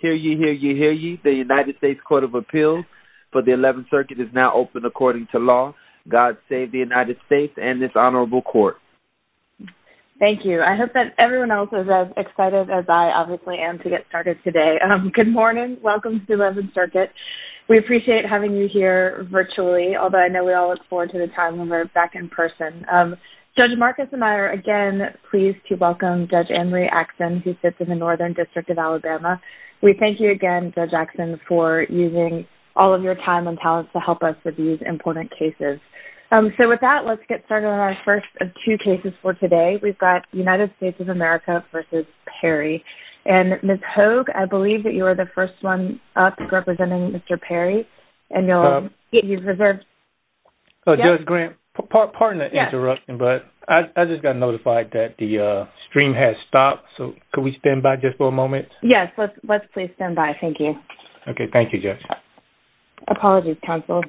Hear ye, hear ye, hear ye. The United States Court of Appeals for the 11th Circuit is now open according to law. God save the United States and this honorable court. Thank you. I hope that everyone else is as excited as I obviously am to get started today. Good morning. Welcome to the 11th Circuit. We appreciate having you here virtually, although I know we all look forward to the time when we're back in person. Judge Marcus and I are again pleased to thank you again, Judge Jackson, for using all of your time and talents to help us with these important cases. So with that, let's get started on our first of two cases for today. We've got United States of America v. Perry. And Ms. Hogue, I believe that you are the first one up representing Mr. Perry. And you'll get your reserves. Judge Grant, pardon the interruption, but I just got notified that the stream has stopped. So could we stand by just for a moment? Yes, let's please stand by. Thank you. Okay, thank you, Judge. Apologies, counsel.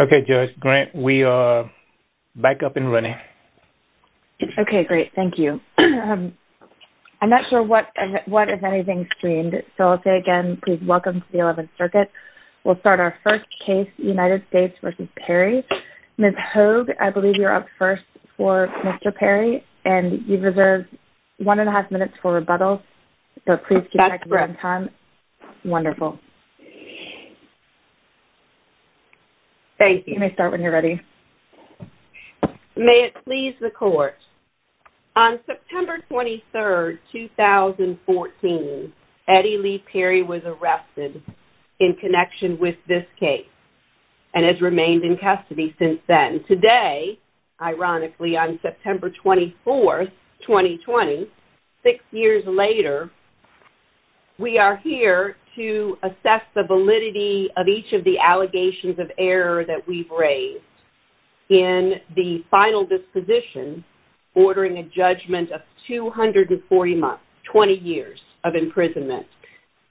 Okay, Judge Grant, we are back up and running. Okay, great. Thank you. I'm not sure what is anything streamed. So I'll say again, please welcome to the 11th Circuit. We'll start our first case, United States v. Perry. Ms. Hogue, I have one and a half minutes for rebuttal, so please keep track of your own time. That's great. Wonderful. Thank you. You may start when you're ready. May it please the court, on September 23rd, 2014, Eddie Lee Perry was arrested in connection with this case and has since been released in 2020. Six years later, we are here to assess the validity of each of the allegations of error that we've raised in the final disposition ordering a judgment of 240 months, 20 years, of imprisonment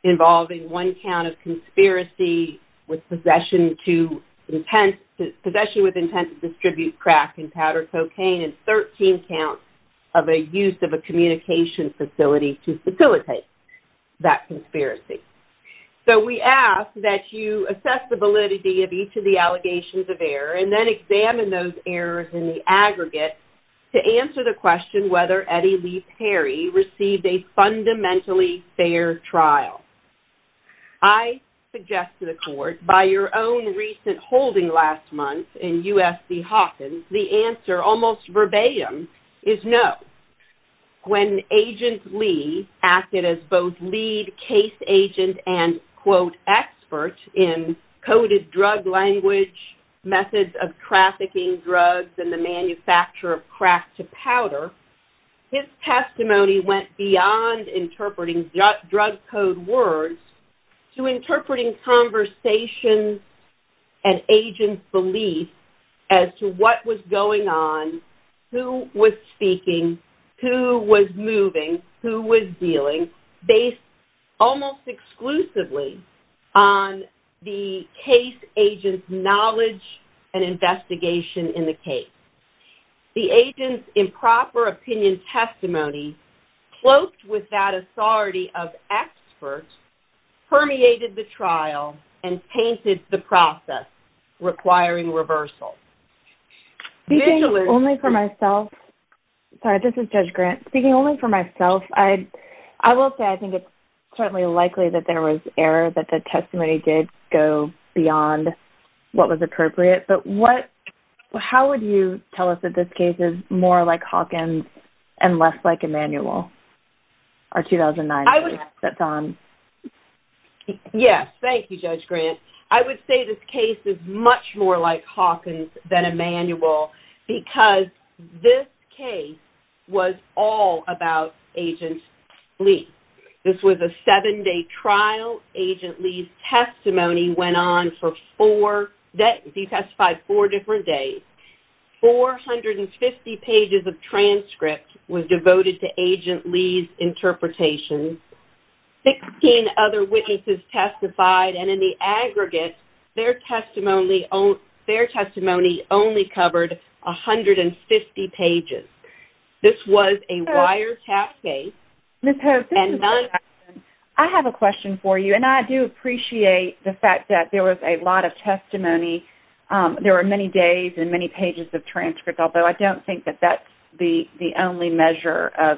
involving one count of conspiracy with possession to intent, possession with intent to distribute crack and powder cocaine, and 13 counts of a use of a communication facility to facilitate that conspiracy. So we ask that you assess the validity of each of the allegations of error and then examine those errors in the aggregate to answer the question whether Eddie Lee Perry received a fundamentally fair trial. I suggest to the court, by your own recent holding last month in USC Hawkins, the answer, almost verbatim, is no. When Agent Lee acted as both lead case agent and, quote, expert in coded drug language, methods of trafficking drugs, and the manufacture of crack to powder, his testimony went beyond interpreting drug code words to interpreting conversations and agents' belief as to what was going on, who was speaking, who was moving, who was dealing, based almost exclusively on the case agent's knowledge and investigation in the case. The agent's improper opinion testimony cloaked with that authority of expert permeated the trial and painted the process requiring reversal. Speaking only for myself, sorry, this is Judge Grant. Speaking only for myself, I will say I think it's certainly likely that there was error, that the testimony did go beyond what was appropriate. But what, how would you tell us that this case is more like Hawkins and less like Emanuel, our 2009 case that's on? Yes, thank you, Judge Grant. I would say this case is much more like Hawkins than Emanuel because this case was all about Agent Lee. This was a seven-day trial. Agent Lee's testimony went on for four, he testified four different days. Four hundred and fifty pages of transcripts were devoted to Agent Lee's interpretation. Sixteen other witnesses testified and in the aggregate, their testimony only covered a hundred and fifty pages. This was a wiretap case and none of the other witnesses testified. I have a question for you and I do appreciate the fact that there was a lot of testimony. There were many days and many pages of transcripts, although I don't think that that's the only measure of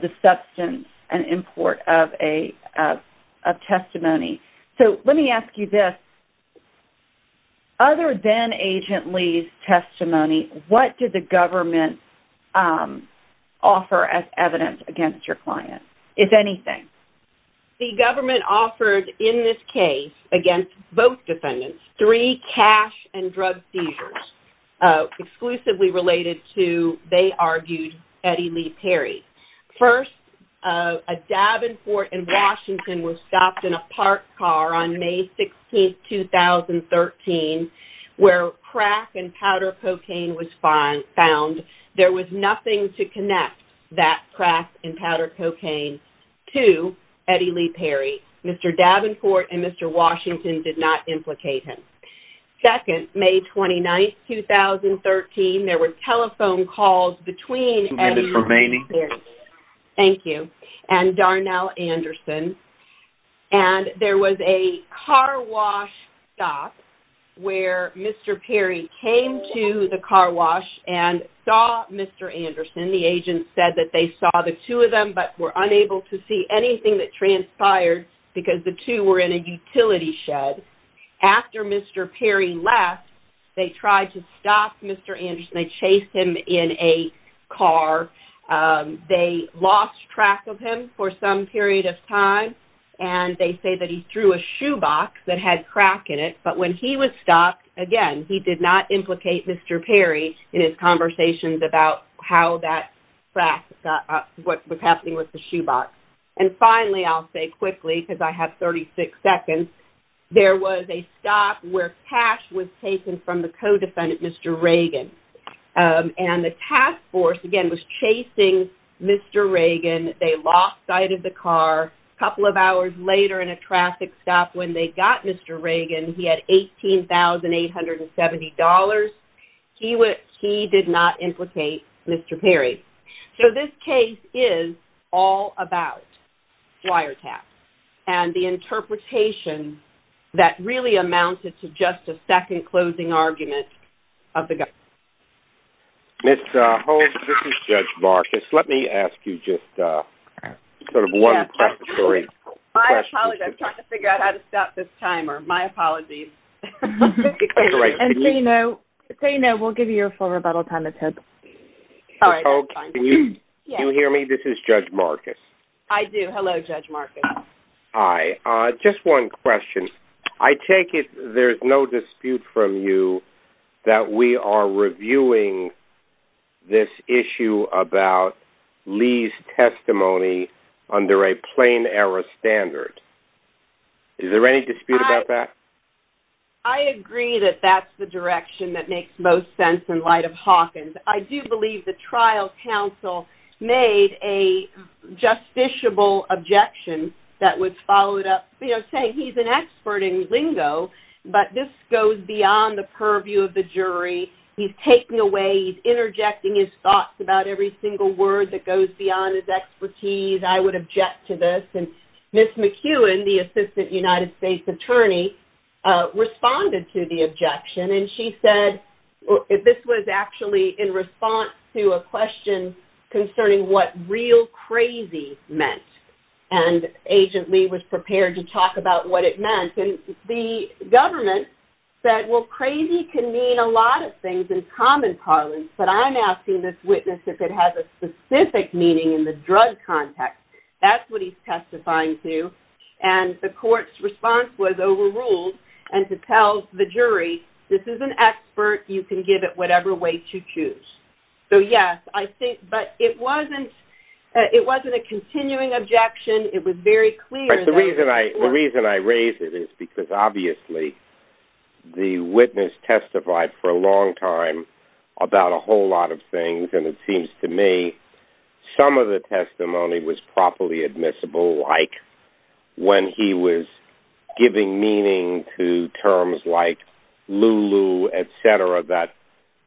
the substance and import of testimony. So let me ask you this. Other than Agent Lee's testimony, what did the government offer as evidence against your client, if anything? The government offered in this case against both defendants three cash and drug seizures exclusively related to, they argued, Eddie Lee Perry. First, a Davenport and Washington was stopped in a parked car on May 16, 2013, where crack and powder cocaine was found. There was nothing to connect that crack and powder cocaine to Eddie Lee Perry. Mr. Davenport and Mr. Washington did not implicate him. Second, May 29, 2013, there were telephone calls between Eddie Lee Perry and Darnell Anderson and there was a car wash stop where Mr. Perry came to the car wash and saw Mr. Anderson. The agent said that they saw the two of them but were unable to see anything that transpired because the two were in a utility shed. After Mr. Perry left, they tried to stop Mr. Anderson. They chased him in a car. They lost track of him for some period of time and they say that he threw a shoebox that had crack in it, but when he was stopped, again, he did not implicate Mr. Perry in his conversations about how that crack, what was happening with the shoebox. Finally, I'll say quickly because I have 36 seconds, there was a stop where cash was taken from the co-defendant, Mr. Reagan. The task force, again, was chasing Mr. Reagan. They lost sight of the car. A couple of hours later in a traffic stop when they got Mr. Reagan, he had $18,870. He did not implicate Mr. Perry. So this case is all about wiretaps and the interpretation that really amounted to just a second closing argument of the government. Ms. Holtz, this is Judge Marcus. Let me ask you just sort of one question. Ms. Holtz, can you hear me? This is Judge Marcus. I do. Hello, Judge Marcus. Hi. Just one question. I take it there's no dispute from you that we are reviewing this issue about Lee's testimony under a plain error standard. Is there any dispute about that? I agree that that's the direction that makes most sense in light of Hawkins. I do believe the trial counsel made a justiciable objection that was followed up saying he's an expert in lingo, but this goes beyond the purview of the jury. He's taking away, he's interjecting his thoughts about every single word that goes beyond his expertise. I would object to this. And Ms. McEwen, the Assistant United States Attorney, responded to the objection. And she said this was actually in response to a question concerning what real crazy meant. And Agent Lee was prepared to talk about what it meant. And the government said, well, crazy can mean a lot of things in common parlance, but I'm asking this witness if it has a specific meaning in the drug context. That's what he's testifying to. And the court's response was overruled and to tell the jury, this is an expert. You can give it whatever way to choose. So, yes, I think, but it wasn't a continuing objection. It was very clear. The reason I raise it is because obviously the witness testified for a long time about a whole lot of things. And it seems to me some of the testimony was properly admissible, like when he was giving meaning to terms like Lulu, etc., that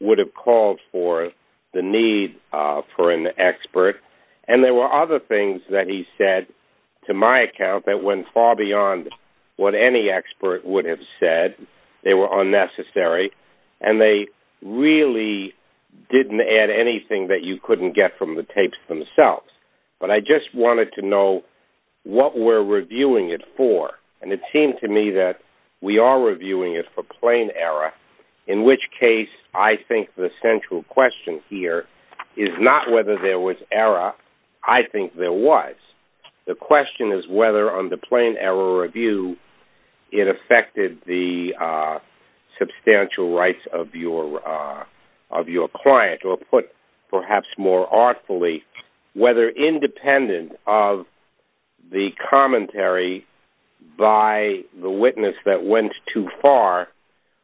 would have called for the need for an expert. And there were other things that he said, to my account, that went far beyond what any expert would have said. They were unnecessary, and they really didn't add anything that you couldn't get from the tapes themselves. But I just wanted to know what we're reviewing it for. And it seemed to me that we are reviewing it for plain error, in which case I think the central question here is not whether there was error. I think there was. The question is whether on the plain error review it affected the substantial rights of your client, or put perhaps more artfully, whether independent of the commentary by the witness that went too far,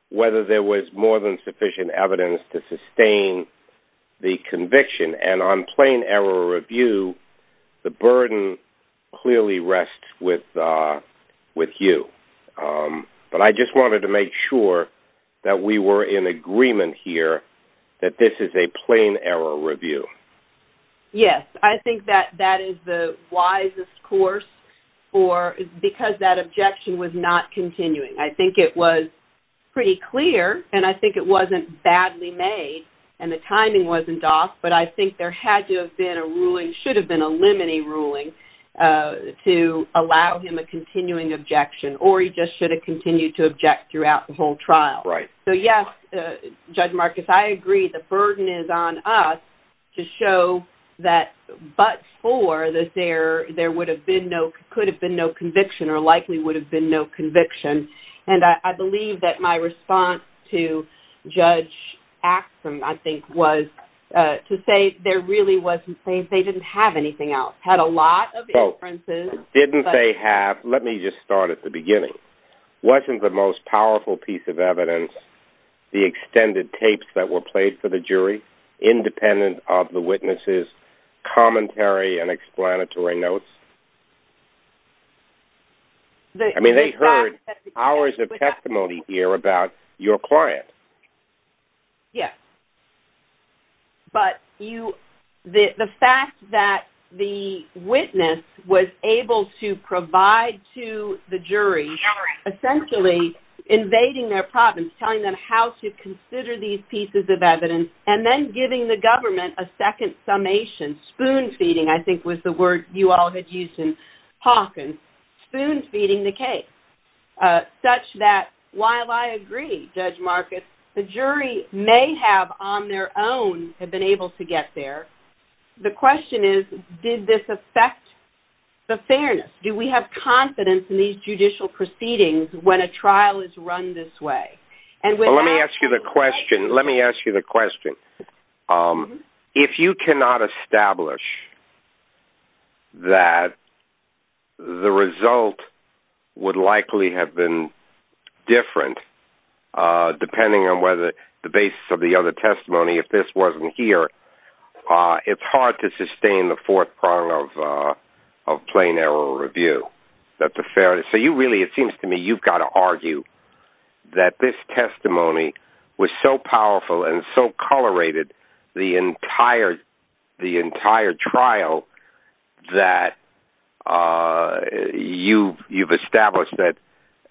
whether there was more than sufficient evidence to sustain the conviction. And on plain error review, the burden clearly rests with you. But I just wanted to make sure that we were in agreement here that this is a plain error review. Yes, I think that that is the wisest course, because that objection was not continuing. I think it was pretty clear, and I think it wasn't badly made, and the timing wasn't off, but I think there had to have been a ruling, should have been a limiting ruling, to allow him a continuing objection. Or he just should have continued to object throughout the whole trial. So yes, Judge Marcus, I agree the burden is on us to show that but for that there could have been no conviction, or likely would have been no conviction. And I believe that my response to Judge Axsom, I think, was to say there really wasn't plain, they didn't have anything else. Had a lot of inferences. Didn't they have, let me just start at the beginning, wasn't the most powerful piece of evidence the extended tapes that were played for the jury, independent of the witness's commentary and explanatory notes? I mean they heard hours of testimony here about your client. Yes. But the fact that the witness was able to provide to the jury, essentially invading their problems, telling them how to consider these pieces of evidence, and then giving the government a second summation, spoon feeding I think was the word you all had used in Hawkins, spoon feeding the case. Such that, while I agree, Judge Marcus, the jury may have on their own have been able to get there. The question is, did this affect the fairness? Do we have confidence in these judicial proceedings when a trial is run this way? Let me ask you the question, let me ask you the question. If you cannot establish that the result would likely have been different, depending on whether the basis of the other testimony, if this wasn't here, it's hard to sustain the fourth prong of plain error review. So you really, it seems to me, you've got to argue that this testimony was so powerful and so colorated the entire trial that you've established that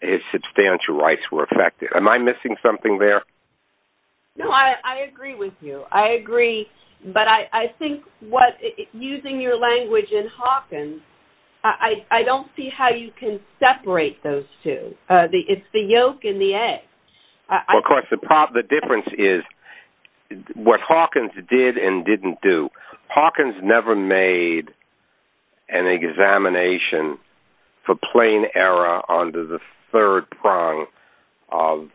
his substantial rights were affected. Am I missing something there? No, I agree with you. I agree, but I think using your language in Hawkins, I don't see how you can separate those two. It's the yolk and the egg. Of course, the difference is what Hawkins did and didn't do. Hawkins never made an examination for plain error under the third prong of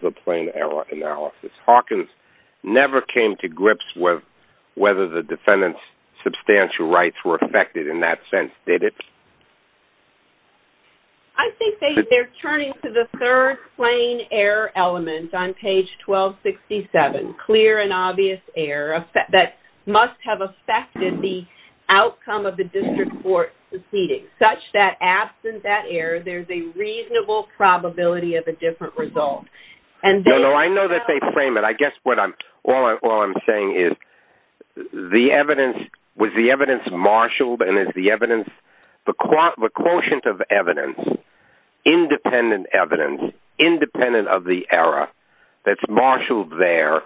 the plain error analysis. Hawkins never came to grips with whether the defendant's substantial rights were affected in that sense, did it? I think they're turning to the third plain error element on page 1267, clear and obvious error, that must have affected the outcome of the district court proceedings, such that absent that error, there's a reasonable probability of a different result. No, no, I know that they frame it. I guess what I'm, all I'm saying is the evidence, was the evidence marshaled and is the evidence, the quotient of evidence, independent evidence, independent of the error that's marshaled there,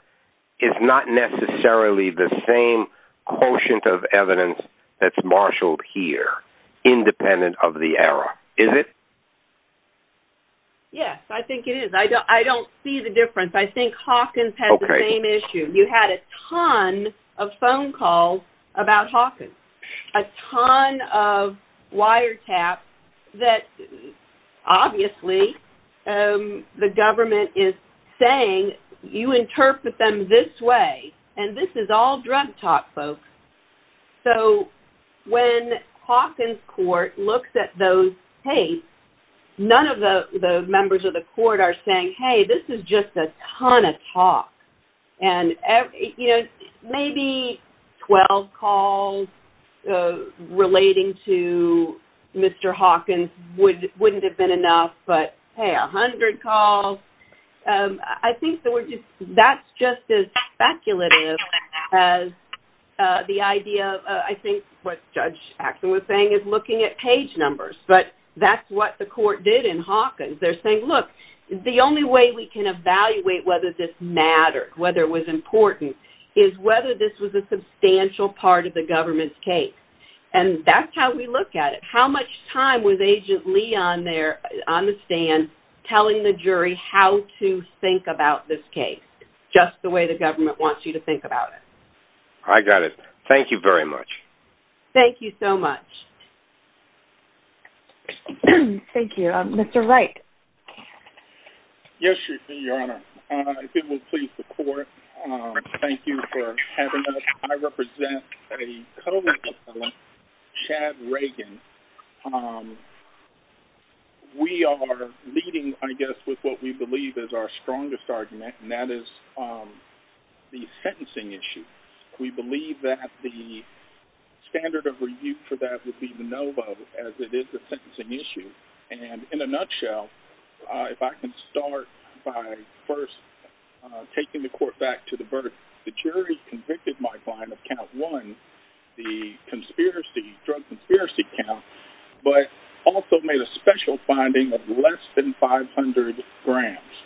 is not necessarily the same quotient of evidence that's marshaled here, independent of the error, is it? Yes, I think it is. I don't see the difference. I think Hawkins had the same issue. You had a ton of phone calls about Hawkins, a ton of wiretaps that obviously the government is saying, you interpret them this way, and this is all drug talk, folks. So when Hawkins Court looks at those tapes, none of the members of the court are saying, hey, this is just a ton of talk. And, you know, maybe 12 calls relating to Mr. Hawkins wouldn't have been enough, but, hey, 100 calls, I think that's just as speculative as the idea of, I think what Judge Axel was saying is looking at page numbers. But that's what the court did in Hawkins. They're saying, look, the only way we can evaluate whether this mattered, whether it was important, is whether this was a substantial part of the government's case. And that's how we look at it. How much time was Agent Lee on the stand telling the jury how to think about this case, just the way the government wants you to think about it? I got it. Thank you very much. Thank you so much. Thank you. Mr. Wright. Yes, Your Honor. If it would please the court, thank you for having us. I represent a co-appellant, Chad Reagan. We are leading, I guess, with what we believe is our strongest argument, and that is the sentencing issue. We believe that the standard of review for that would be the NOVA, as it is the sentencing issue. And in a nutshell, if I can start by first taking the court back to the verdict. The jury convicted my client of count one, the drug conspiracy count, but also made a special finding of less than 500 grams.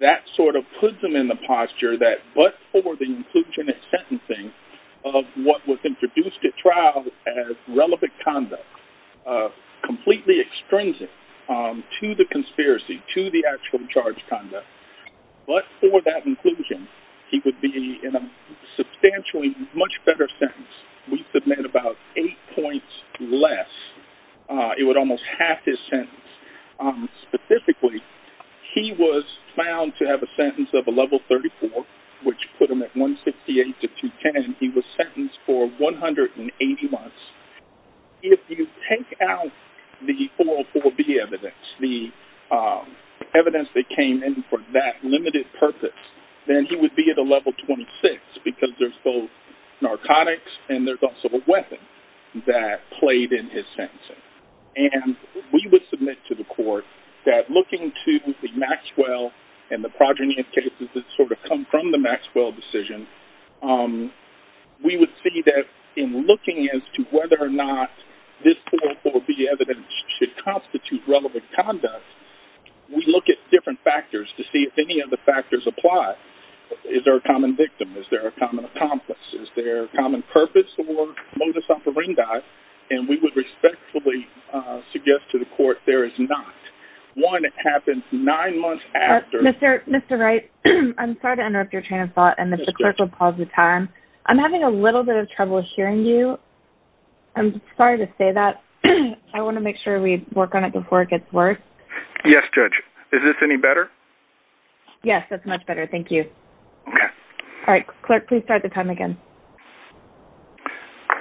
That sort of puts him in the posture that but for the inclusion at sentencing of what was introduced at trial as relevant conduct, completely extrinsic to the conspiracy, to the actual charged conduct, but for that inclusion, he would be in a substantially much better sentence. We submit about eight points less. It would almost half his sentence. Specifically, he was found to have a sentence of a level 34, which put him at 168 to 210. He was sentenced for 180 months. If you take out the 404B evidence, the evidence that came in for that limited purpose, then he would be at a level 26 because there's both narcotics and there's also a weapon that played in his sentencing. And we would submit to the court that looking to the Maxwell and the progeny of cases that sort of come from the Maxwell decision, we would see that in looking as to whether or not this 404B evidence should constitute relevant conduct, we look at different factors to see if any of the factors apply. Is there a common victim? Is there a common accomplice? Is there a common purpose or modus operandi? And we would respectfully suggest to the court there is not. One, it happens nine months after. Mr. Wright, I'm sorry to interrupt your train of thought and that the clerk will pause the time. I'm having a little bit of trouble hearing you. I'm sorry to say that. I want to make sure we work on it before it gets worse. Yes, Judge. Is this any better? Yes, that's much better. Thank you. All right. Clerk, please start the time again.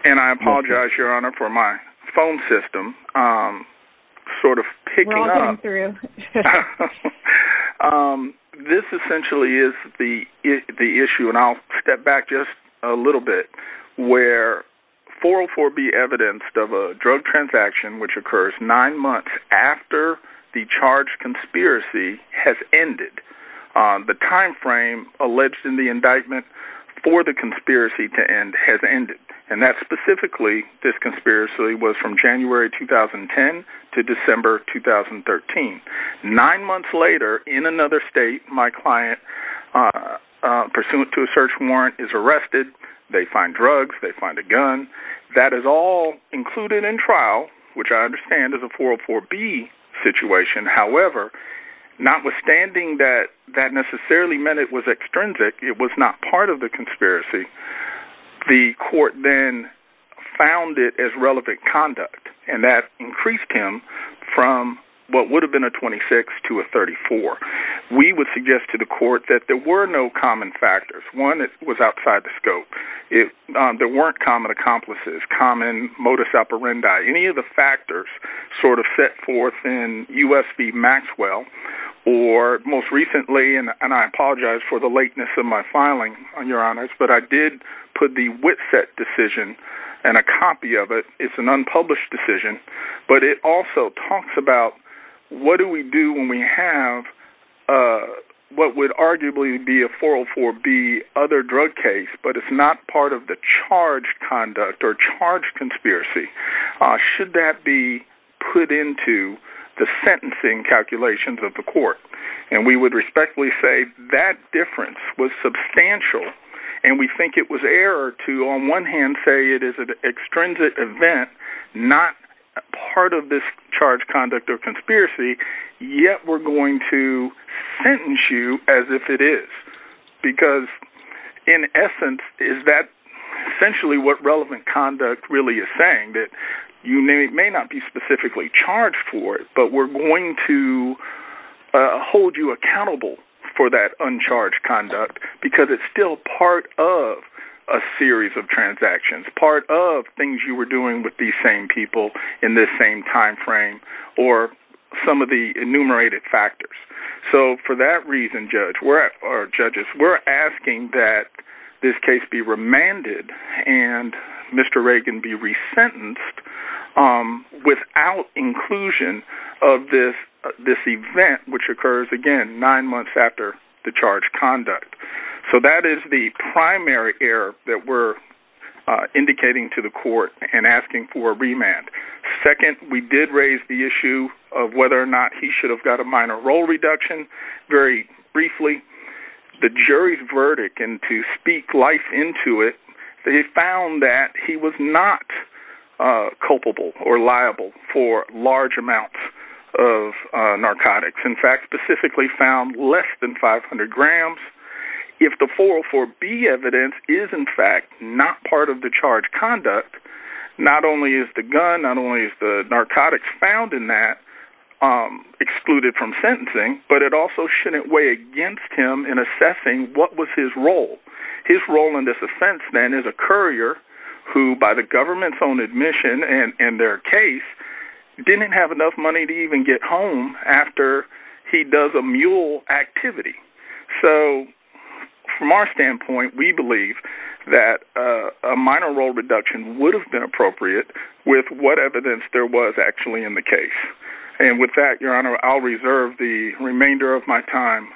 And I apologize, Your Honor, for my phone system sort of picking up. We're all getting through. This essentially is the issue, and I'll step back just a little bit, where 404B evidence of a drug transaction which occurs nine months after the charged conspiracy has ended. The time frame alleged in the indictment for the conspiracy to end has ended, and that specifically, this conspiracy was from January 2010 to December 2013. Nine months later, in another state, my client, pursuant to a search warrant, is arrested. They find drugs. They find a gun. That is all included in trial, which I understand is a 404B situation. However, notwithstanding that that necessarily meant it was extrinsic, it was not part of the conspiracy, the court then found it as relevant conduct, and that increased him from what would have been a 26 to a 34. We would suggest to the court that there were no common factors. One, it was outside the scope. There weren't common accomplices, common modus operandi. Any of the factors sort of set forth in U.S. v. Maxwell, or most recently, and I apologize for the lateness of my filing, Your Honors, but I did put the Witset decision and a copy of it. It's an unpublished decision, but it also talks about what do we do when we have what would arguably be a 404B other drug case, but it's not part of the charged conduct or charged conspiracy. Should that be put into the sentencing calculations of the court? And we would respectfully say that difference was substantial, and we think it was error to, on one hand, say it is an extrinsic event, not part of this charged conduct or conspiracy, yet we're going to sentence you as if it is, because in essence, is that essentially what relevant conduct really is saying, that you may not be specifically charged for it, but we're going to hold you accountable for that uncharged conduct, because it's still part of a series of transactions, part of things you were doing with these same people in this same time frame, or some of the enumerated factors. So for that reason, judges, we're asking that this case be remanded and Mr. Reagan be resentenced without inclusion of this event, which occurs, again, nine months after the charged conduct. So that is the primary error that we're indicating to the court and asking for a remand. Second, we did raise the issue of whether or not he should have got a minor role reduction. Very briefly, the jury's verdict, and to speak life into it, they found that he was not culpable or liable for large amounts of narcotics. In fact, specifically found less than 500 grams. If the 404B evidence is, in fact, not part of the charged conduct, not only is the gun, not only is the narcotics found in that excluded from sentencing, but it also shouldn't weigh against him in assessing what was his role. His role in this offense, then, is a courier who, by the government's own admission in their case, didn't have enough money to even get home after he does a mule activity. So from our standpoint, we believe that a minor role reduction would have been appropriate with what evidence there was actually in the case. And with that, Your Honor, I'll reserve the remainder of my time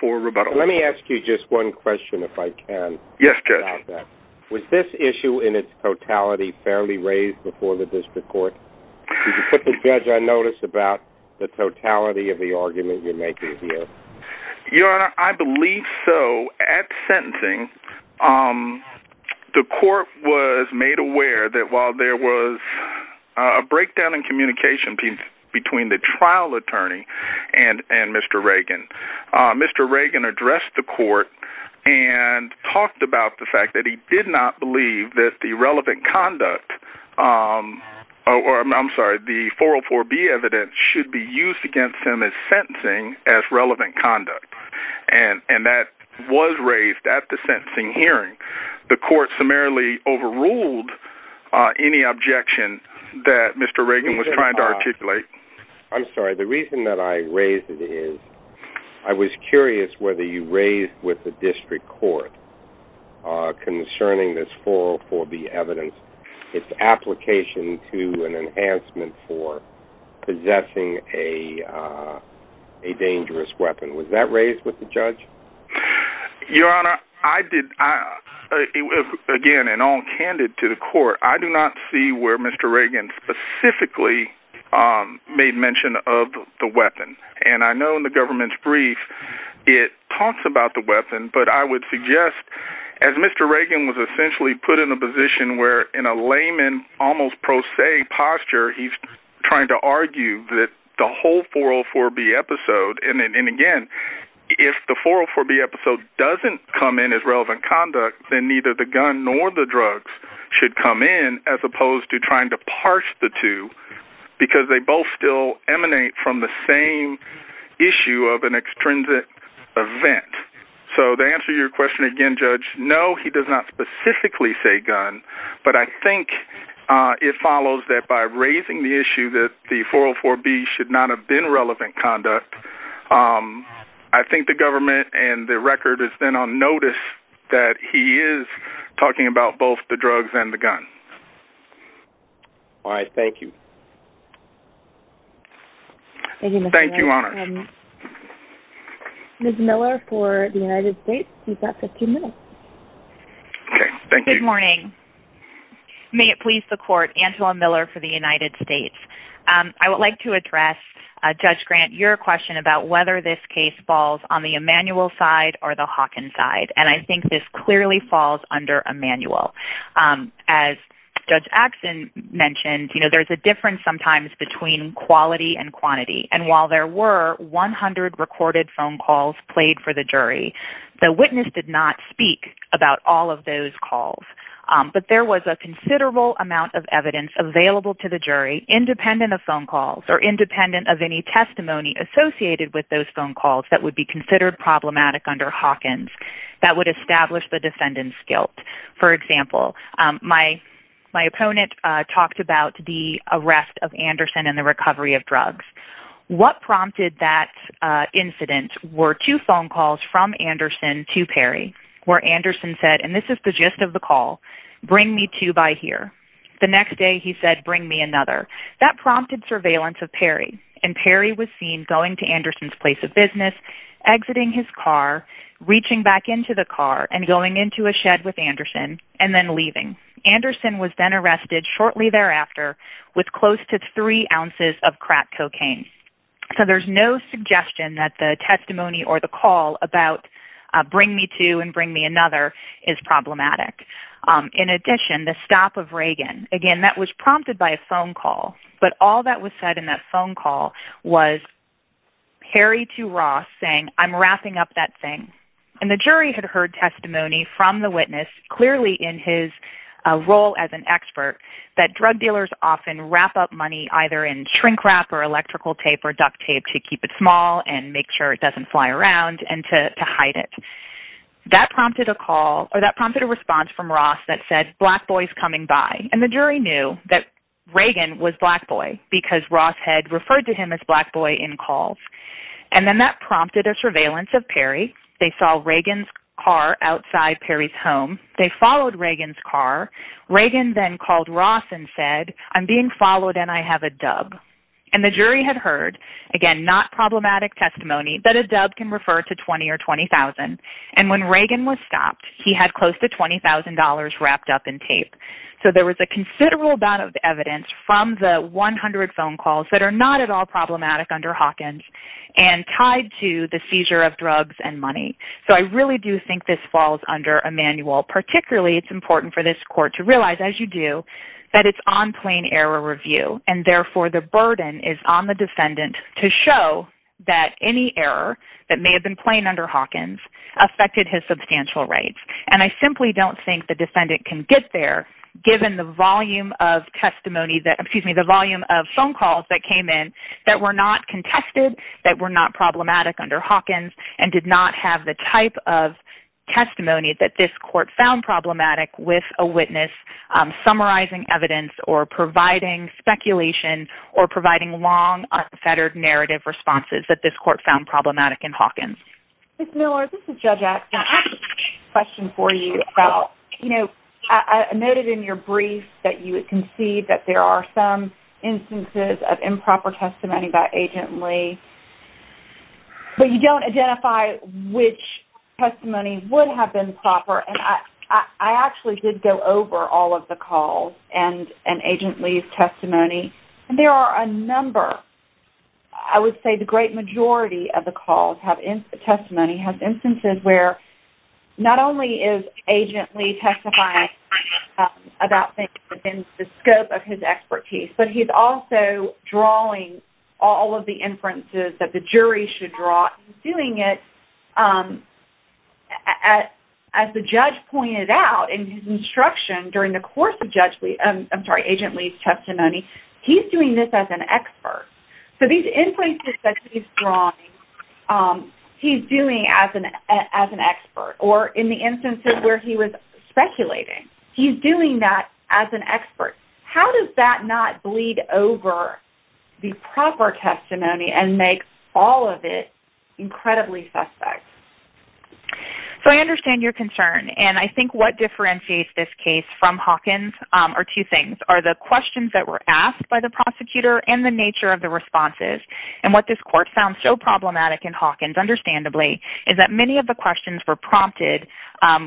for rebuttal. Let me ask you just one question, if I can. Yes, Judge. Was this issue in its totality fairly raised before the district court? If you could put the judge on notice about the totality of the argument you're making here. Your Honor, I believe so. At sentencing, the court was made aware that while there was a breakdown in communication between the trial attorney and Mr. Reagan, Mr. Reagan addressed the court and talked about the fact that he did not believe that the 404B evidence should be used against him as sentencing as relevant conduct. And that was raised at the sentencing hearing. The court summarily overruled any objection that Mr. Reagan was trying to articulate. I'm sorry. The reason that I raised it is I was curious whether you raised with the district court concerning this 404B evidence its application to an enhancement for possessing a dangerous weapon. Was that raised with the judge? Your Honor, again and all candid to the court, I do not see where Mr. Reagan specifically made mention of the weapon. And I know in the government's brief it talks about the weapon, but I would suggest as Mr. Reagan was essentially put in a position where in a layman, almost pro se posture, he's trying to argue that the whole 404B episode, and again, if the 404B episode doesn't come in as relevant conduct, then neither the gun nor the drugs should come in as opposed to trying to parse the two because they both still emanate from the same issue of an extrinsic event. So to answer your question again, Judge, no, he does not specifically say gun. But I think it follows that by raising the issue that the 404B should not have been relevant conduct, I think the government and the record is then on notice that he is talking about both the drugs and the gun. All right. Thank you. Thank you, Your Honor. Ms. Miller for the United States, you've got 15 minutes. Okay. Thank you. Good morning. May it please the court, Angela Miller for the United States. I would like to address, Judge Grant, your question about whether this case falls on the Emanuel side or the Hawkins side. And I think this clearly falls under Emanuel. As Judge Axson mentioned, you know, there's a difference sometimes between quality and quantity. And while there were 100 recorded phone calls played for the jury, the witness did not speak about all of those calls. But there was a considerable amount of evidence available to the jury independent of phone calls or independent of any testimony associated with those phone calls that would be considered problematic under Hawkins that would establish the defendant's guilt. For example, my opponent talked about the arrest of Anderson and the recovery of drugs. What prompted that incident were two phone calls from Anderson to Perry where Anderson said, and this is the gist of the call, bring me two by here. The next day, he said, bring me another. That prompted surveillance of Perry. And Perry was seen going to Anderson's place of business, exiting his car, reaching back into the car, and going into a shed with Anderson and then leaving. Anderson was then arrested shortly thereafter with close to three ounces of crack cocaine. So there's no suggestion that the testimony or the call about bring me two and bring me another is problematic. In addition, the stop of Reagan, again, that was prompted by a phone call. But all that was said in that phone call was Perry to Ross saying, I'm wrapping up that thing. And the jury had heard testimony from the witness clearly in his role as an expert that drug dealers often wrap up money either in shrink wrap or electrical tape or duct tape to keep it small and make sure it doesn't fly around and to hide it. That prompted a call or that prompted a response from Ross that said black boys coming by. And the jury knew that Reagan was black boy because Ross had referred to him as black boy in calls. And then that prompted a surveillance of Perry. They saw Reagan's car outside Perry's home. They followed Reagan's car. Reagan then called Ross and said, I'm being followed and I have a dub. And the jury had heard, again, not problematic testimony that a dub can refer to 20 or 20,000. And when Reagan was stopped, he had close to $20,000 wrapped up in tape. So there was a considerable amount of evidence from the 100 phone calls that are not at all problematic under Hawkins and tied to the seizure of drugs and money. So I really do think this falls under a manual. Particularly it's important for this court to realize, as you do, that it's on plain error review. And, therefore, the burden is on the defendant to show that any error that may have been plain under Hawkins affected his substantial rights. And I simply don't think the defendant can get there given the volume of testimony that, excuse me, the volume of phone calls that came in that were not contested, that were not problematic under Hawkins, and did not have the type of testimony that this court found problematic with a witness summarizing evidence or providing speculation or providing long, unfettered narrative responses that this court found problematic in Hawkins. Ms. Miller, this is Judge Atkins. I have a question for you about, you know, I noted in your brief that you concede that there are some instances of improper testimony by Agent Lee. But you don't identify which testimony would have been proper. And I actually did go over all of the calls and Agent Lee's testimony. And there are a number, I would say the great majority of the calls have testimony, have instances where not only is Agent Lee testifying about things within the scope of his expertise, but he's also drawing all of the inferences that the jury should draw. He's doing it as the judge pointed out in his instruction during the course of Agent Lee's testimony. He's doing this as an expert. So these inferences that he's drawing, he's doing as an expert. Or in the instances where he was speculating, he's doing that as an expert. How does that not bleed over the proper testimony and make all of it incredibly suspect? So I understand your concern. And I think what differentiates this case from Hawkins are two things, are the questions that were asked by the prosecutor and the nature of the responses. And what this court found so problematic in Hawkins, understandably, is that many of the questions were prompted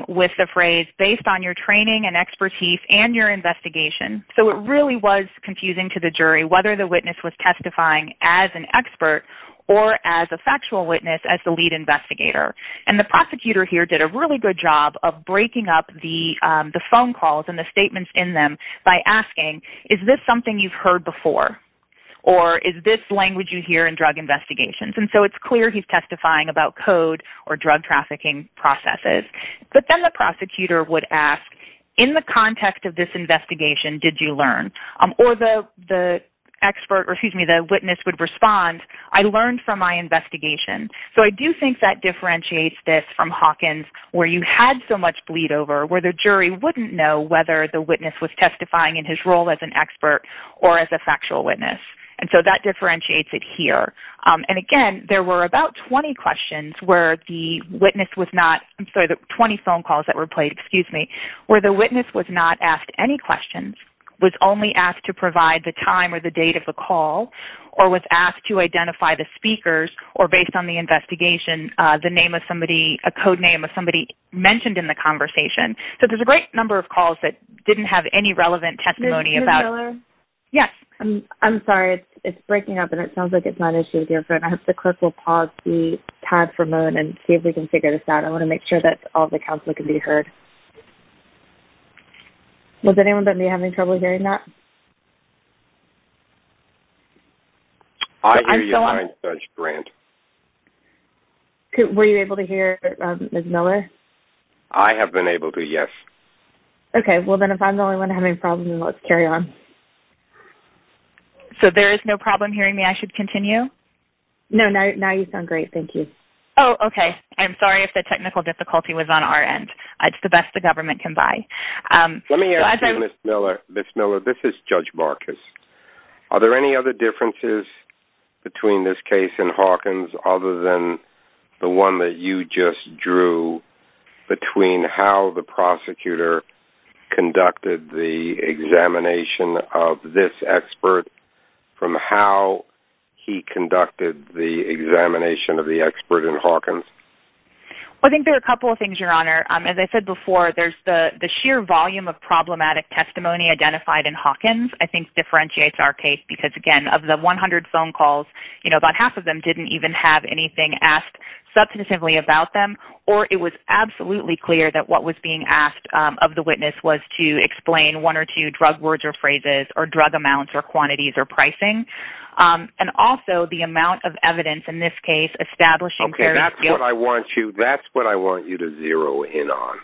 with the phrase, based on your training and expertise and your investigation. So it really was confusing to the jury whether the witness was testifying as an expert or as a factual witness as the lead investigator. And the prosecutor here did a really good job of breaking up the phone calls and the statements in them by asking, is this something you've heard before? Or is this language you hear in drug investigations? And so it's clear he's testifying about code or drug trafficking processes. But then the prosecutor would ask, in the context of this investigation, did you learn? Or the witness would respond, I learned from my investigation. So I do think that differentiates this from Hawkins, where you had so much bleed over, where the jury wouldn't know whether the witness was testifying in his role as an expert or as a factual witness. And so that differentiates it here. And, again, there were about 20 questions where the witness was not ‑‑ I'm sorry, 20 phone calls that were played, excuse me, where the witness was not asked any questions, was only asked to provide the time or the date of the call, or was asked to identify the speakers or, based on the investigation, the name of somebody, a code name of somebody mentioned in the conversation. So there's a great number of calls that didn't have any relevant testimony about ‑‑ Ms. Miller? Yes. I'm sorry. It's breaking up, and it sounds like it's not an issue with your phone. I hope the clerk will pause the time for a moment and see if we can figure this out. I want to make sure that all the counsel can be heard. Was anyone with me having trouble hearing that? I hear you fine, Judge Grant. Were you able to hear Ms. Miller? I have been able to, yes. Okay. Well, then, if I'm the only one having problems, let's carry on. So there is no problem hearing me? I should continue? No, now you sound great. Thank you. Oh, okay. I'm sorry if the technical difficulty was on our end. It's the best the government can buy. Let me ask you, Ms. Miller. Ms. Miller, this is Judge Marcus. Are there any other differences between this case and Hawkins other than the one that you just drew between how the prosecutor conducted the examination of this expert from how he conducted the examination of the expert in Hawkins? I think there are a couple of things, Your Honor. As I said before, the sheer volume of problematic testimony identified in Hawkins, I think, differentiates our case because, again, of the 100 phone calls, you know, about half of them didn't even have anything asked substantively about them, or it was absolutely clear that what was being asked of the witness was to explain one or two drug words or phrases or drug amounts or quantities or pricing, and also the amount of evidence in this case establishing very few. Okay. That's what I want you to zero in on,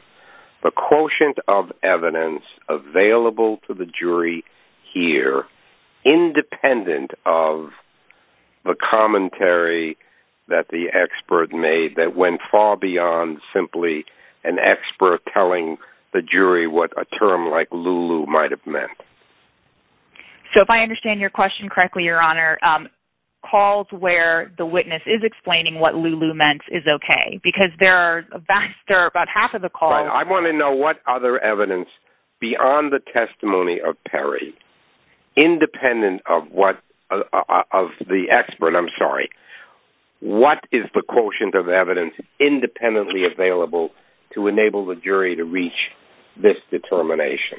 the quotient of evidence available to the jury here, independent of the commentary that the expert made that went far beyond simply an expert telling the jury what a term like Lulu might have meant. So if I understand your question correctly, Your Honor, calls where the witness is explaining what Lulu meant is okay because there are about half of the calls. I want to know what other evidence beyond the testimony of Perry, independent of the expert, I'm sorry, what is the quotient of evidence independently available to enable the jury to reach this determination?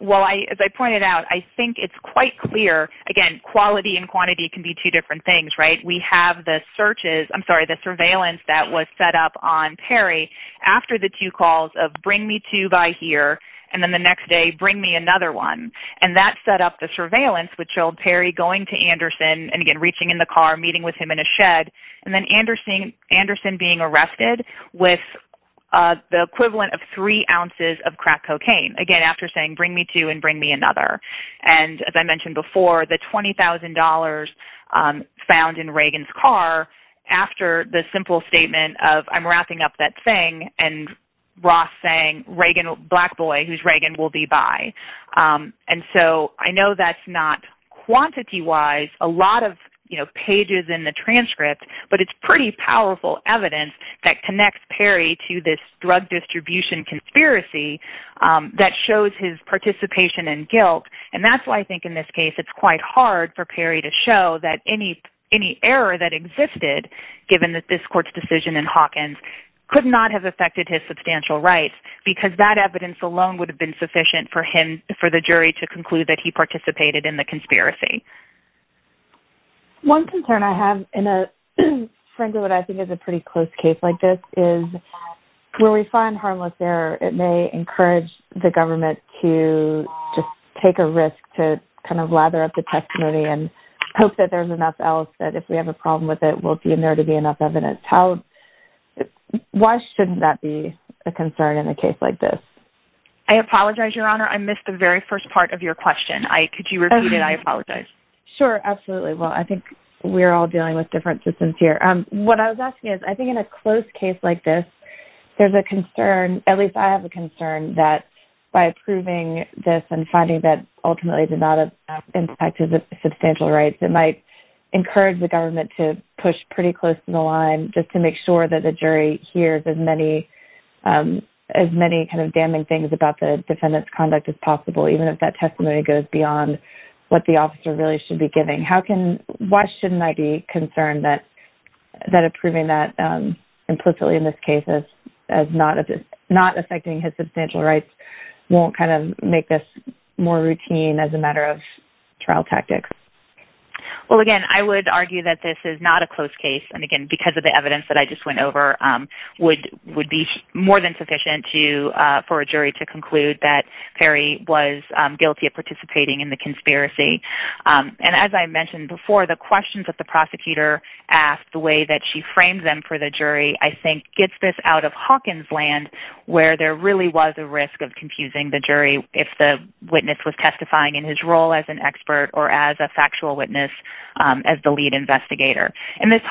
Well, as I pointed out, I think it's quite clear. Again, quality and quantity can be two different things, right? We have the searches, I'm sorry, the surveillance that was set up on Perry after the two calls of bring me two by here and then the next day bring me another one, and that set up the surveillance which showed Perry going to Anderson and again reaching in the car, meeting with him in a shed, and then Anderson being arrested with the equivalent of three ounces of crack cocaine, again, after saying bring me two and bring me another. And as I mentioned before, the $20,000 found in Reagan's car after the simple statement of I'm wrapping up that thing and Ross saying Reagan, black boy, who's Reagan, will be by. And so I know that's not quantity-wise a lot of pages in the transcript, but it's pretty powerful evidence that connects Perry to this drug distribution conspiracy that shows his participation in guilt, and that's why I think in this case it's quite hard for Perry to show that any error that existed given that this court's decision in Hawkins could not have affected his substantial rights because that evidence alone would have been sufficient for him, for the jury to conclude that he participated in the conspiracy. One concern I have in a, frankly, what I think is a pretty close case like this is where we find harmless error, it may encourage the government to just take a risk to kind of lather up the testimony and hope that there's enough else, that if we have a problem with it, we'll be in there to be enough evidence. Why shouldn't that be a concern in a case like this? I apologize, Your Honor, I missed the very first part of your question. Could you repeat it? I apologize. Sure, absolutely. Well, I think we're all dealing with different systems here. What I was asking is, I think in a close case like this, there's a concern, at least I have a concern, that by approving this and finding that ultimately it did not impact his substantial rights, it might encourage the government to push pretty close to the line just to make sure that the jury hears as many kind of damning things about the defendant's conduct as possible, even if that testimony goes beyond what the officer really should be giving. Why shouldn't I be concerned that approving that implicitly in this case as not affecting his substantial rights won't kind of make this more routine as a matter of trial tactics? Well, again, I would argue that this is not a close case, and again, because of the evidence that I just went over, would be more than sufficient for a jury to conclude that Perry was guilty of participating in the conspiracy. And as I mentioned before, the questions that the prosecutor asked, the way that she framed them for the jury, I think gets this out of Hawkins' land, where there really was a risk of confusing the jury if the witness was testifying in his role as an expert or as a factual witness as the lead investigator. And this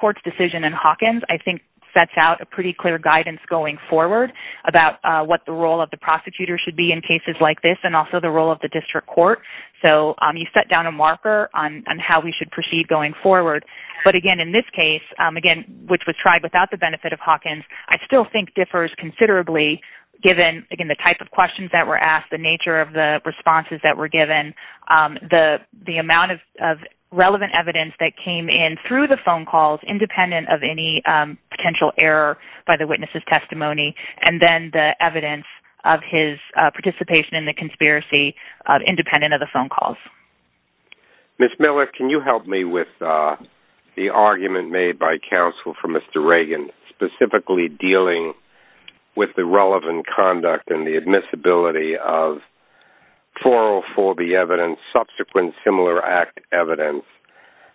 court's decision in Hawkins, I think, sets out a pretty clear guidance going forward about what the role of the prosecutor should be in cases like this and also the role of the district court. So you set down a marker on how we should proceed going forward. But again, in this case, again, which was tried without the benefit of Hawkins, I still think differs considerably given, again, the type of questions that were asked, the nature of the responses that were given, the amount of relevant evidence that came in through the phone calls, independent of any potential error by the witness's testimony, and then the evidence of his participation in the conspiracy independent of the phone calls. Ms. Miller, can you help me with the argument made by counsel for Mr. Reagan specifically dealing with the relevant conduct and the admissibility of 404B evidence, subsequent similar act evidence,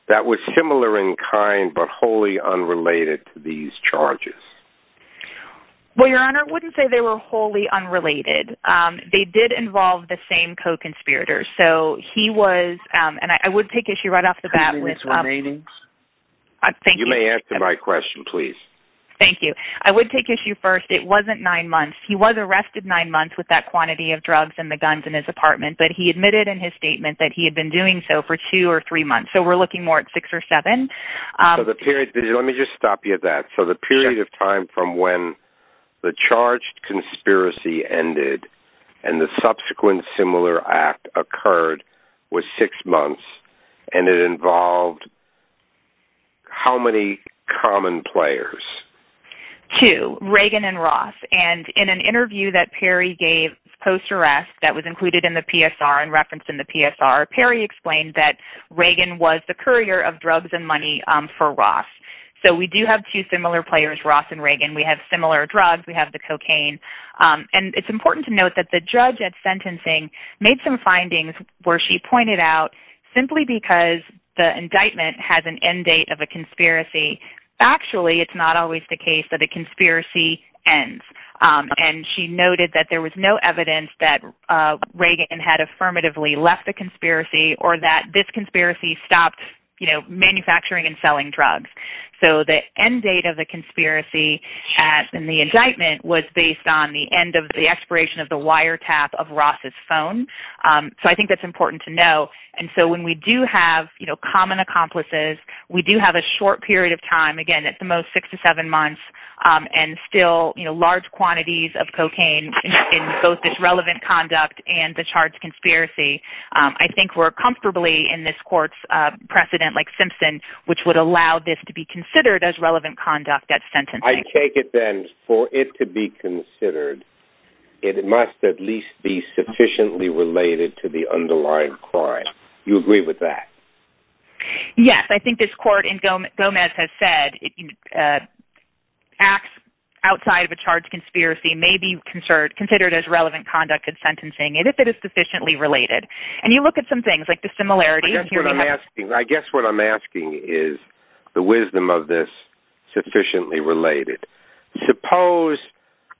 that was similar in kind but wholly unrelated to these charges? Well, Your Honor, I wouldn't say they were wholly unrelated. They did involve the same co-conspirators. So he was, and I would take issue right off the bat with... Two minutes remaining. You may answer my question, please. Thank you. I would take issue first. It wasn't nine months. He was arrested nine months with that quantity of drugs and the guns in his apartment, but he admitted in his statement that he had been doing so for two or three months. So we're looking more at six or seven. So the period, let me just stop you at that. So the period of time from when the charged conspiracy ended and the subsequent similar act occurred was six months, and it involved how many common players? Two, Reagan and Ross. And in an interview that Perry gave post-arrest that was included in the PSR and referenced in the PSR, Perry explained that Reagan was the courier of drugs and money for Ross. So we do have two similar players, Ross and Reagan. We have similar drugs. We have the cocaine. And it's important to note that the judge at sentencing made some findings where she pointed out simply because the indictment has an end date of a conspiracy, actually it's not always the case that a conspiracy ends. And she noted that there was no evidence that Reagan had affirmatively left the conspiracy or that this conspiracy stopped manufacturing and selling drugs. So the end date of the conspiracy in the indictment was based on the end of the expiration of the wiretap of Ross' phone. So I think that's important to know. And so when we do have common accomplices, we do have a short period of time, again, at the most six to seven months, and still large quantities of cocaine in both this relevant conduct and the charged conspiracy. I think we're comfortably in this court's precedent like Simpson, which would allow this to be considered as relevant conduct at sentencing. I take it then for it to be considered, it must at least be sufficiently related to the underlying crime. You agree with that? Yes. I think this court in Gomez has said acts outside of a charged conspiracy may be considered as relevant conduct at sentencing, and if it is sufficiently related. And you look at some things like the similarities. I guess what I'm asking is the wisdom of this sufficiently related. Suppose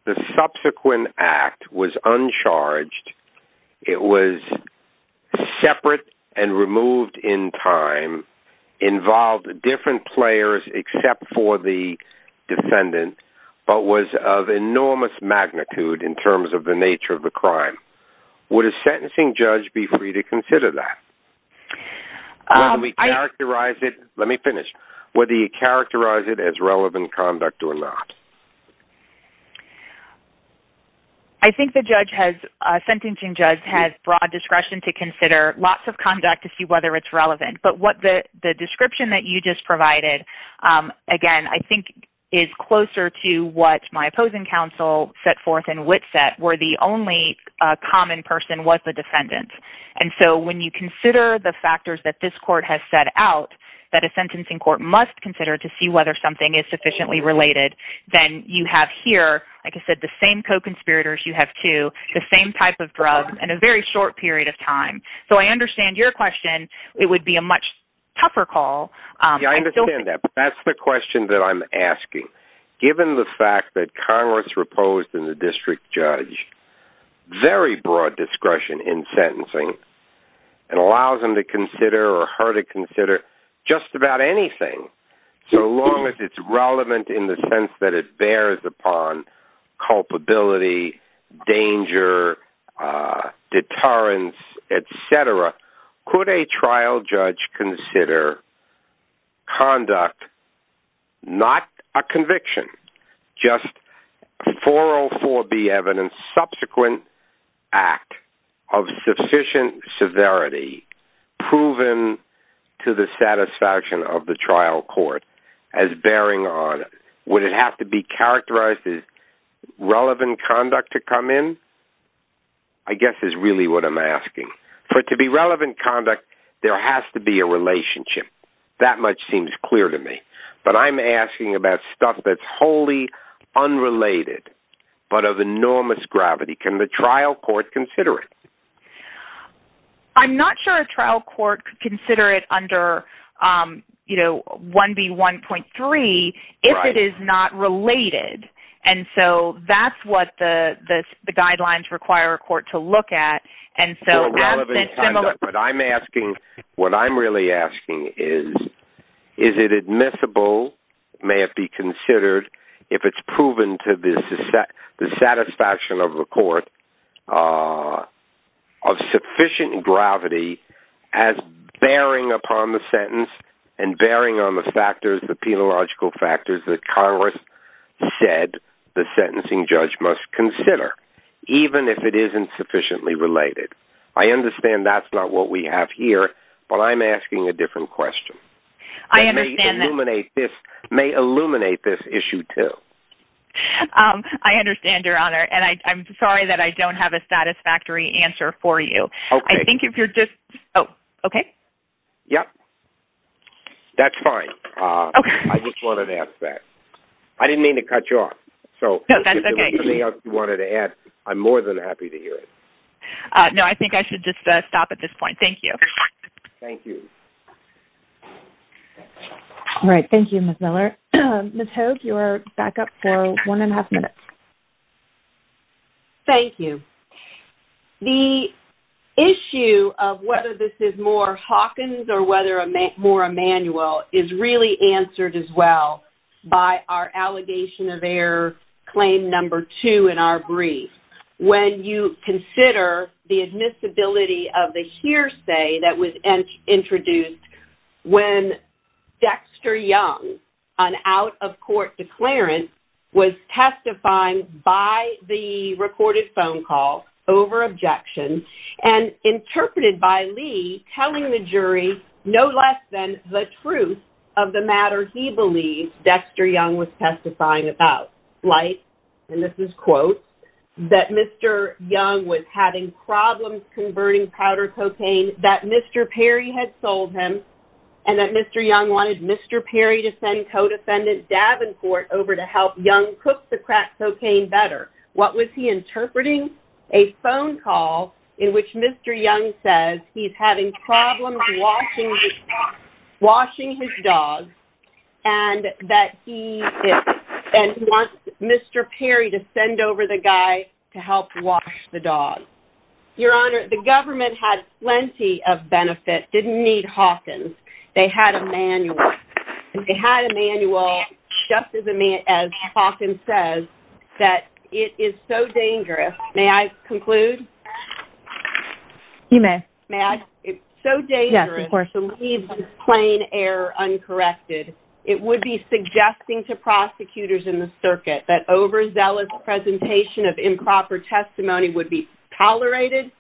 the subsequent act was uncharged, it was separate and removed in time, involved different players except for the defendant, but was of enormous magnitude in terms of the nature of the crime. Would a sentencing judge be free to consider that? Let me finish. Would he characterize it as relevant conduct or not? I think the sentencing judge has broad discretion to consider lots of conduct to see whether it's relevant. But the description that you just provided, again, I think is closer to what my opposing counsel set forth and Witt set where the only common person was the defendant. And so when you consider the factors that this court has set out that a sentencing court must consider to see whether something is sufficiently related, then you have here, like I said, the same co-conspirators, you have two, the same type of drug in a very short period of time. So I understand your question. It would be a much tougher call. I understand that. That's the question that I'm asking. Given the fact that Congress proposed in the district judge very broad discretion in sentencing and allows them to consider or her to consider just about anything, so long as it's relevant in the sense that it bears upon culpability, danger, deterrence, et cetera, could a trial judge consider conduct not a conviction, just a 404B evidence subsequent act of sufficient severity proven to the satisfaction of the trial court as bearing on it? Would it have to be characterized as relevant conduct to come in? I guess is really what I'm asking. For it to be relevant conduct, there has to be a relationship. That much seems clear to me. But I'm asking about stuff that's wholly unrelated but of enormous gravity. Can the trial court consider it? I'm not sure a trial court could consider it under, you know, 1B1.3 if it is not related. And so that's what the guidelines require a court to look at. What I'm asking, what I'm really asking is, is it admissible, may it be considered if it's proven to the satisfaction of the court, of sufficient gravity as bearing upon the sentence and bearing on the factors, the penological factors that Congress said the sentencing judge must consider, even if it isn't sufficiently related? I understand that's not what we have here, but I'm asking a different question that may illuminate this issue too. I understand, Your Honor, and I'm sorry that I don't have a satisfactory answer for you. Okay. I think if you're just, oh, okay. Yep. That's fine. I just wanted to ask that. I didn't mean to cut you off. No, that's okay. If there's anything else you wanted to add, I'm more than happy to hear it. No, I think I should just stop at this point. Thank you. Thank you. All right. Thank you, Ms. Miller. Ms. Hogue, you are back up for one and a half minutes. Thank you. The issue of whether this is more Hawkins or whether more Emanuel is really answered as well by our allegation of error claim number two in our brief. When you consider the admissibility of the hearsay that was introduced when Dexter Young, an out-of-court declarant, was testifying by the recorded phone call over objection and interpreted by Mr. Young as the truth of the matter he believed Dexter Young was testifying about, like, and this is quotes, that Mr. Young was having problems converting powder cocaine, that Mr. Perry had sold him, and that Mr. Young wanted Mr. Perry to send co-defendant Davenport over to help Young cook the crack cocaine better. What was he interpreting? A phone call in which Mr. Young says he's having problems washing his dog and that he wants Mr. Perry to send over the guy to help wash the dog. Your Honor, the government had plenty of benefit, didn't need Hawkins. They had Emanuel. They had Emanuel, just as Hawkins says, that it is so dangerous, may I conclude? You may. It's so dangerous to leave plain error uncorrected. It would be suggesting to prosecutors in the circuit that overzealous presentation of improper testimony would be tolerated,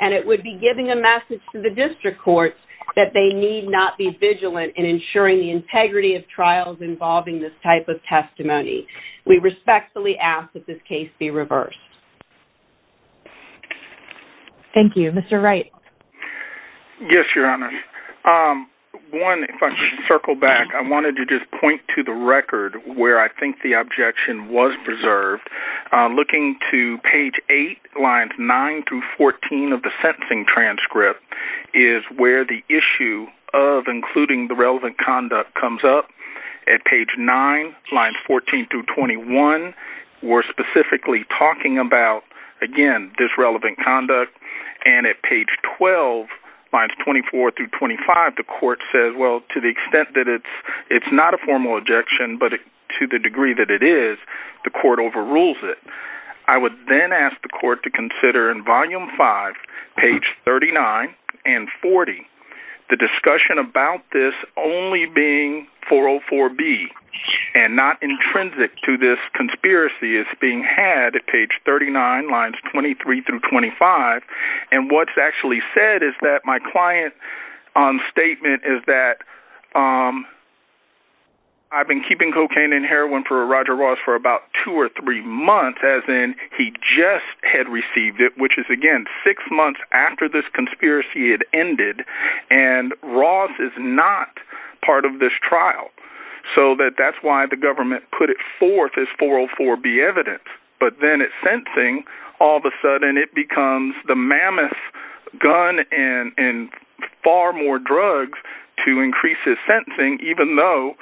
and it would be giving a message to the district courts that they need not be ignoring the integrity of trials involving this type of testimony. We respectfully ask that this case be reversed. Thank you. Mr. Wright. Yes, Your Honor. One, if I could circle back, I wanted to just point to the record where I think the objection was preserved. Looking to page 8, lines 9 through 14 of the sentencing transcript is where the relevant conduct comes up. At page 9, lines 14 through 21, we're specifically talking about, again, disrelevant conduct. And at page 12, lines 24 through 25, the court says, well, to the extent that it's not a formal objection, but to the degree that it is, the court overrules it. I would then ask the court to consider in volume 5, page 39 and 40, the being 404B and not intrinsic to this conspiracy is being had at page 39, lines 23 through 25. And what's actually said is that my client's statement is that I've been keeping cocaine and heroin for Roger Ross for about two or three months, as in he just had received it, which is, again, six months after this conspiracy had ended. And Ross is not part of this trial. So that's why the government put it forth as 404B evidence. But then at sentencing, all of a sudden it becomes the mammoth gun and far more drugs to increase his sentencing, even though,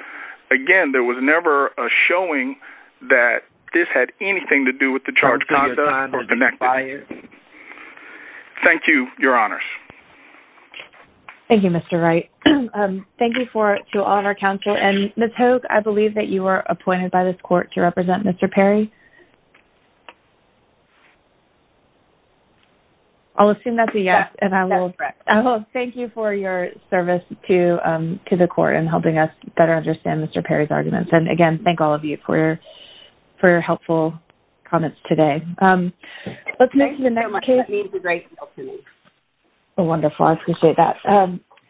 again, there was never a showing that this had anything to do with the charged conduct or connected. Thank you, Your Honors. Thank you, Mr. Wright. Thank you to all of our counsel. And Ms. Hogue, I believe that you were appointed by this court to represent Mr. Perry. I'll assume that's a yes. Yes, that's correct. Thank you for your service to the court in helping us better understand Mr. Perry's arguments. And, again, thank all of you for your helpful comments today. Thank you so much. That means a great deal to me. Wonderful. I appreciate that.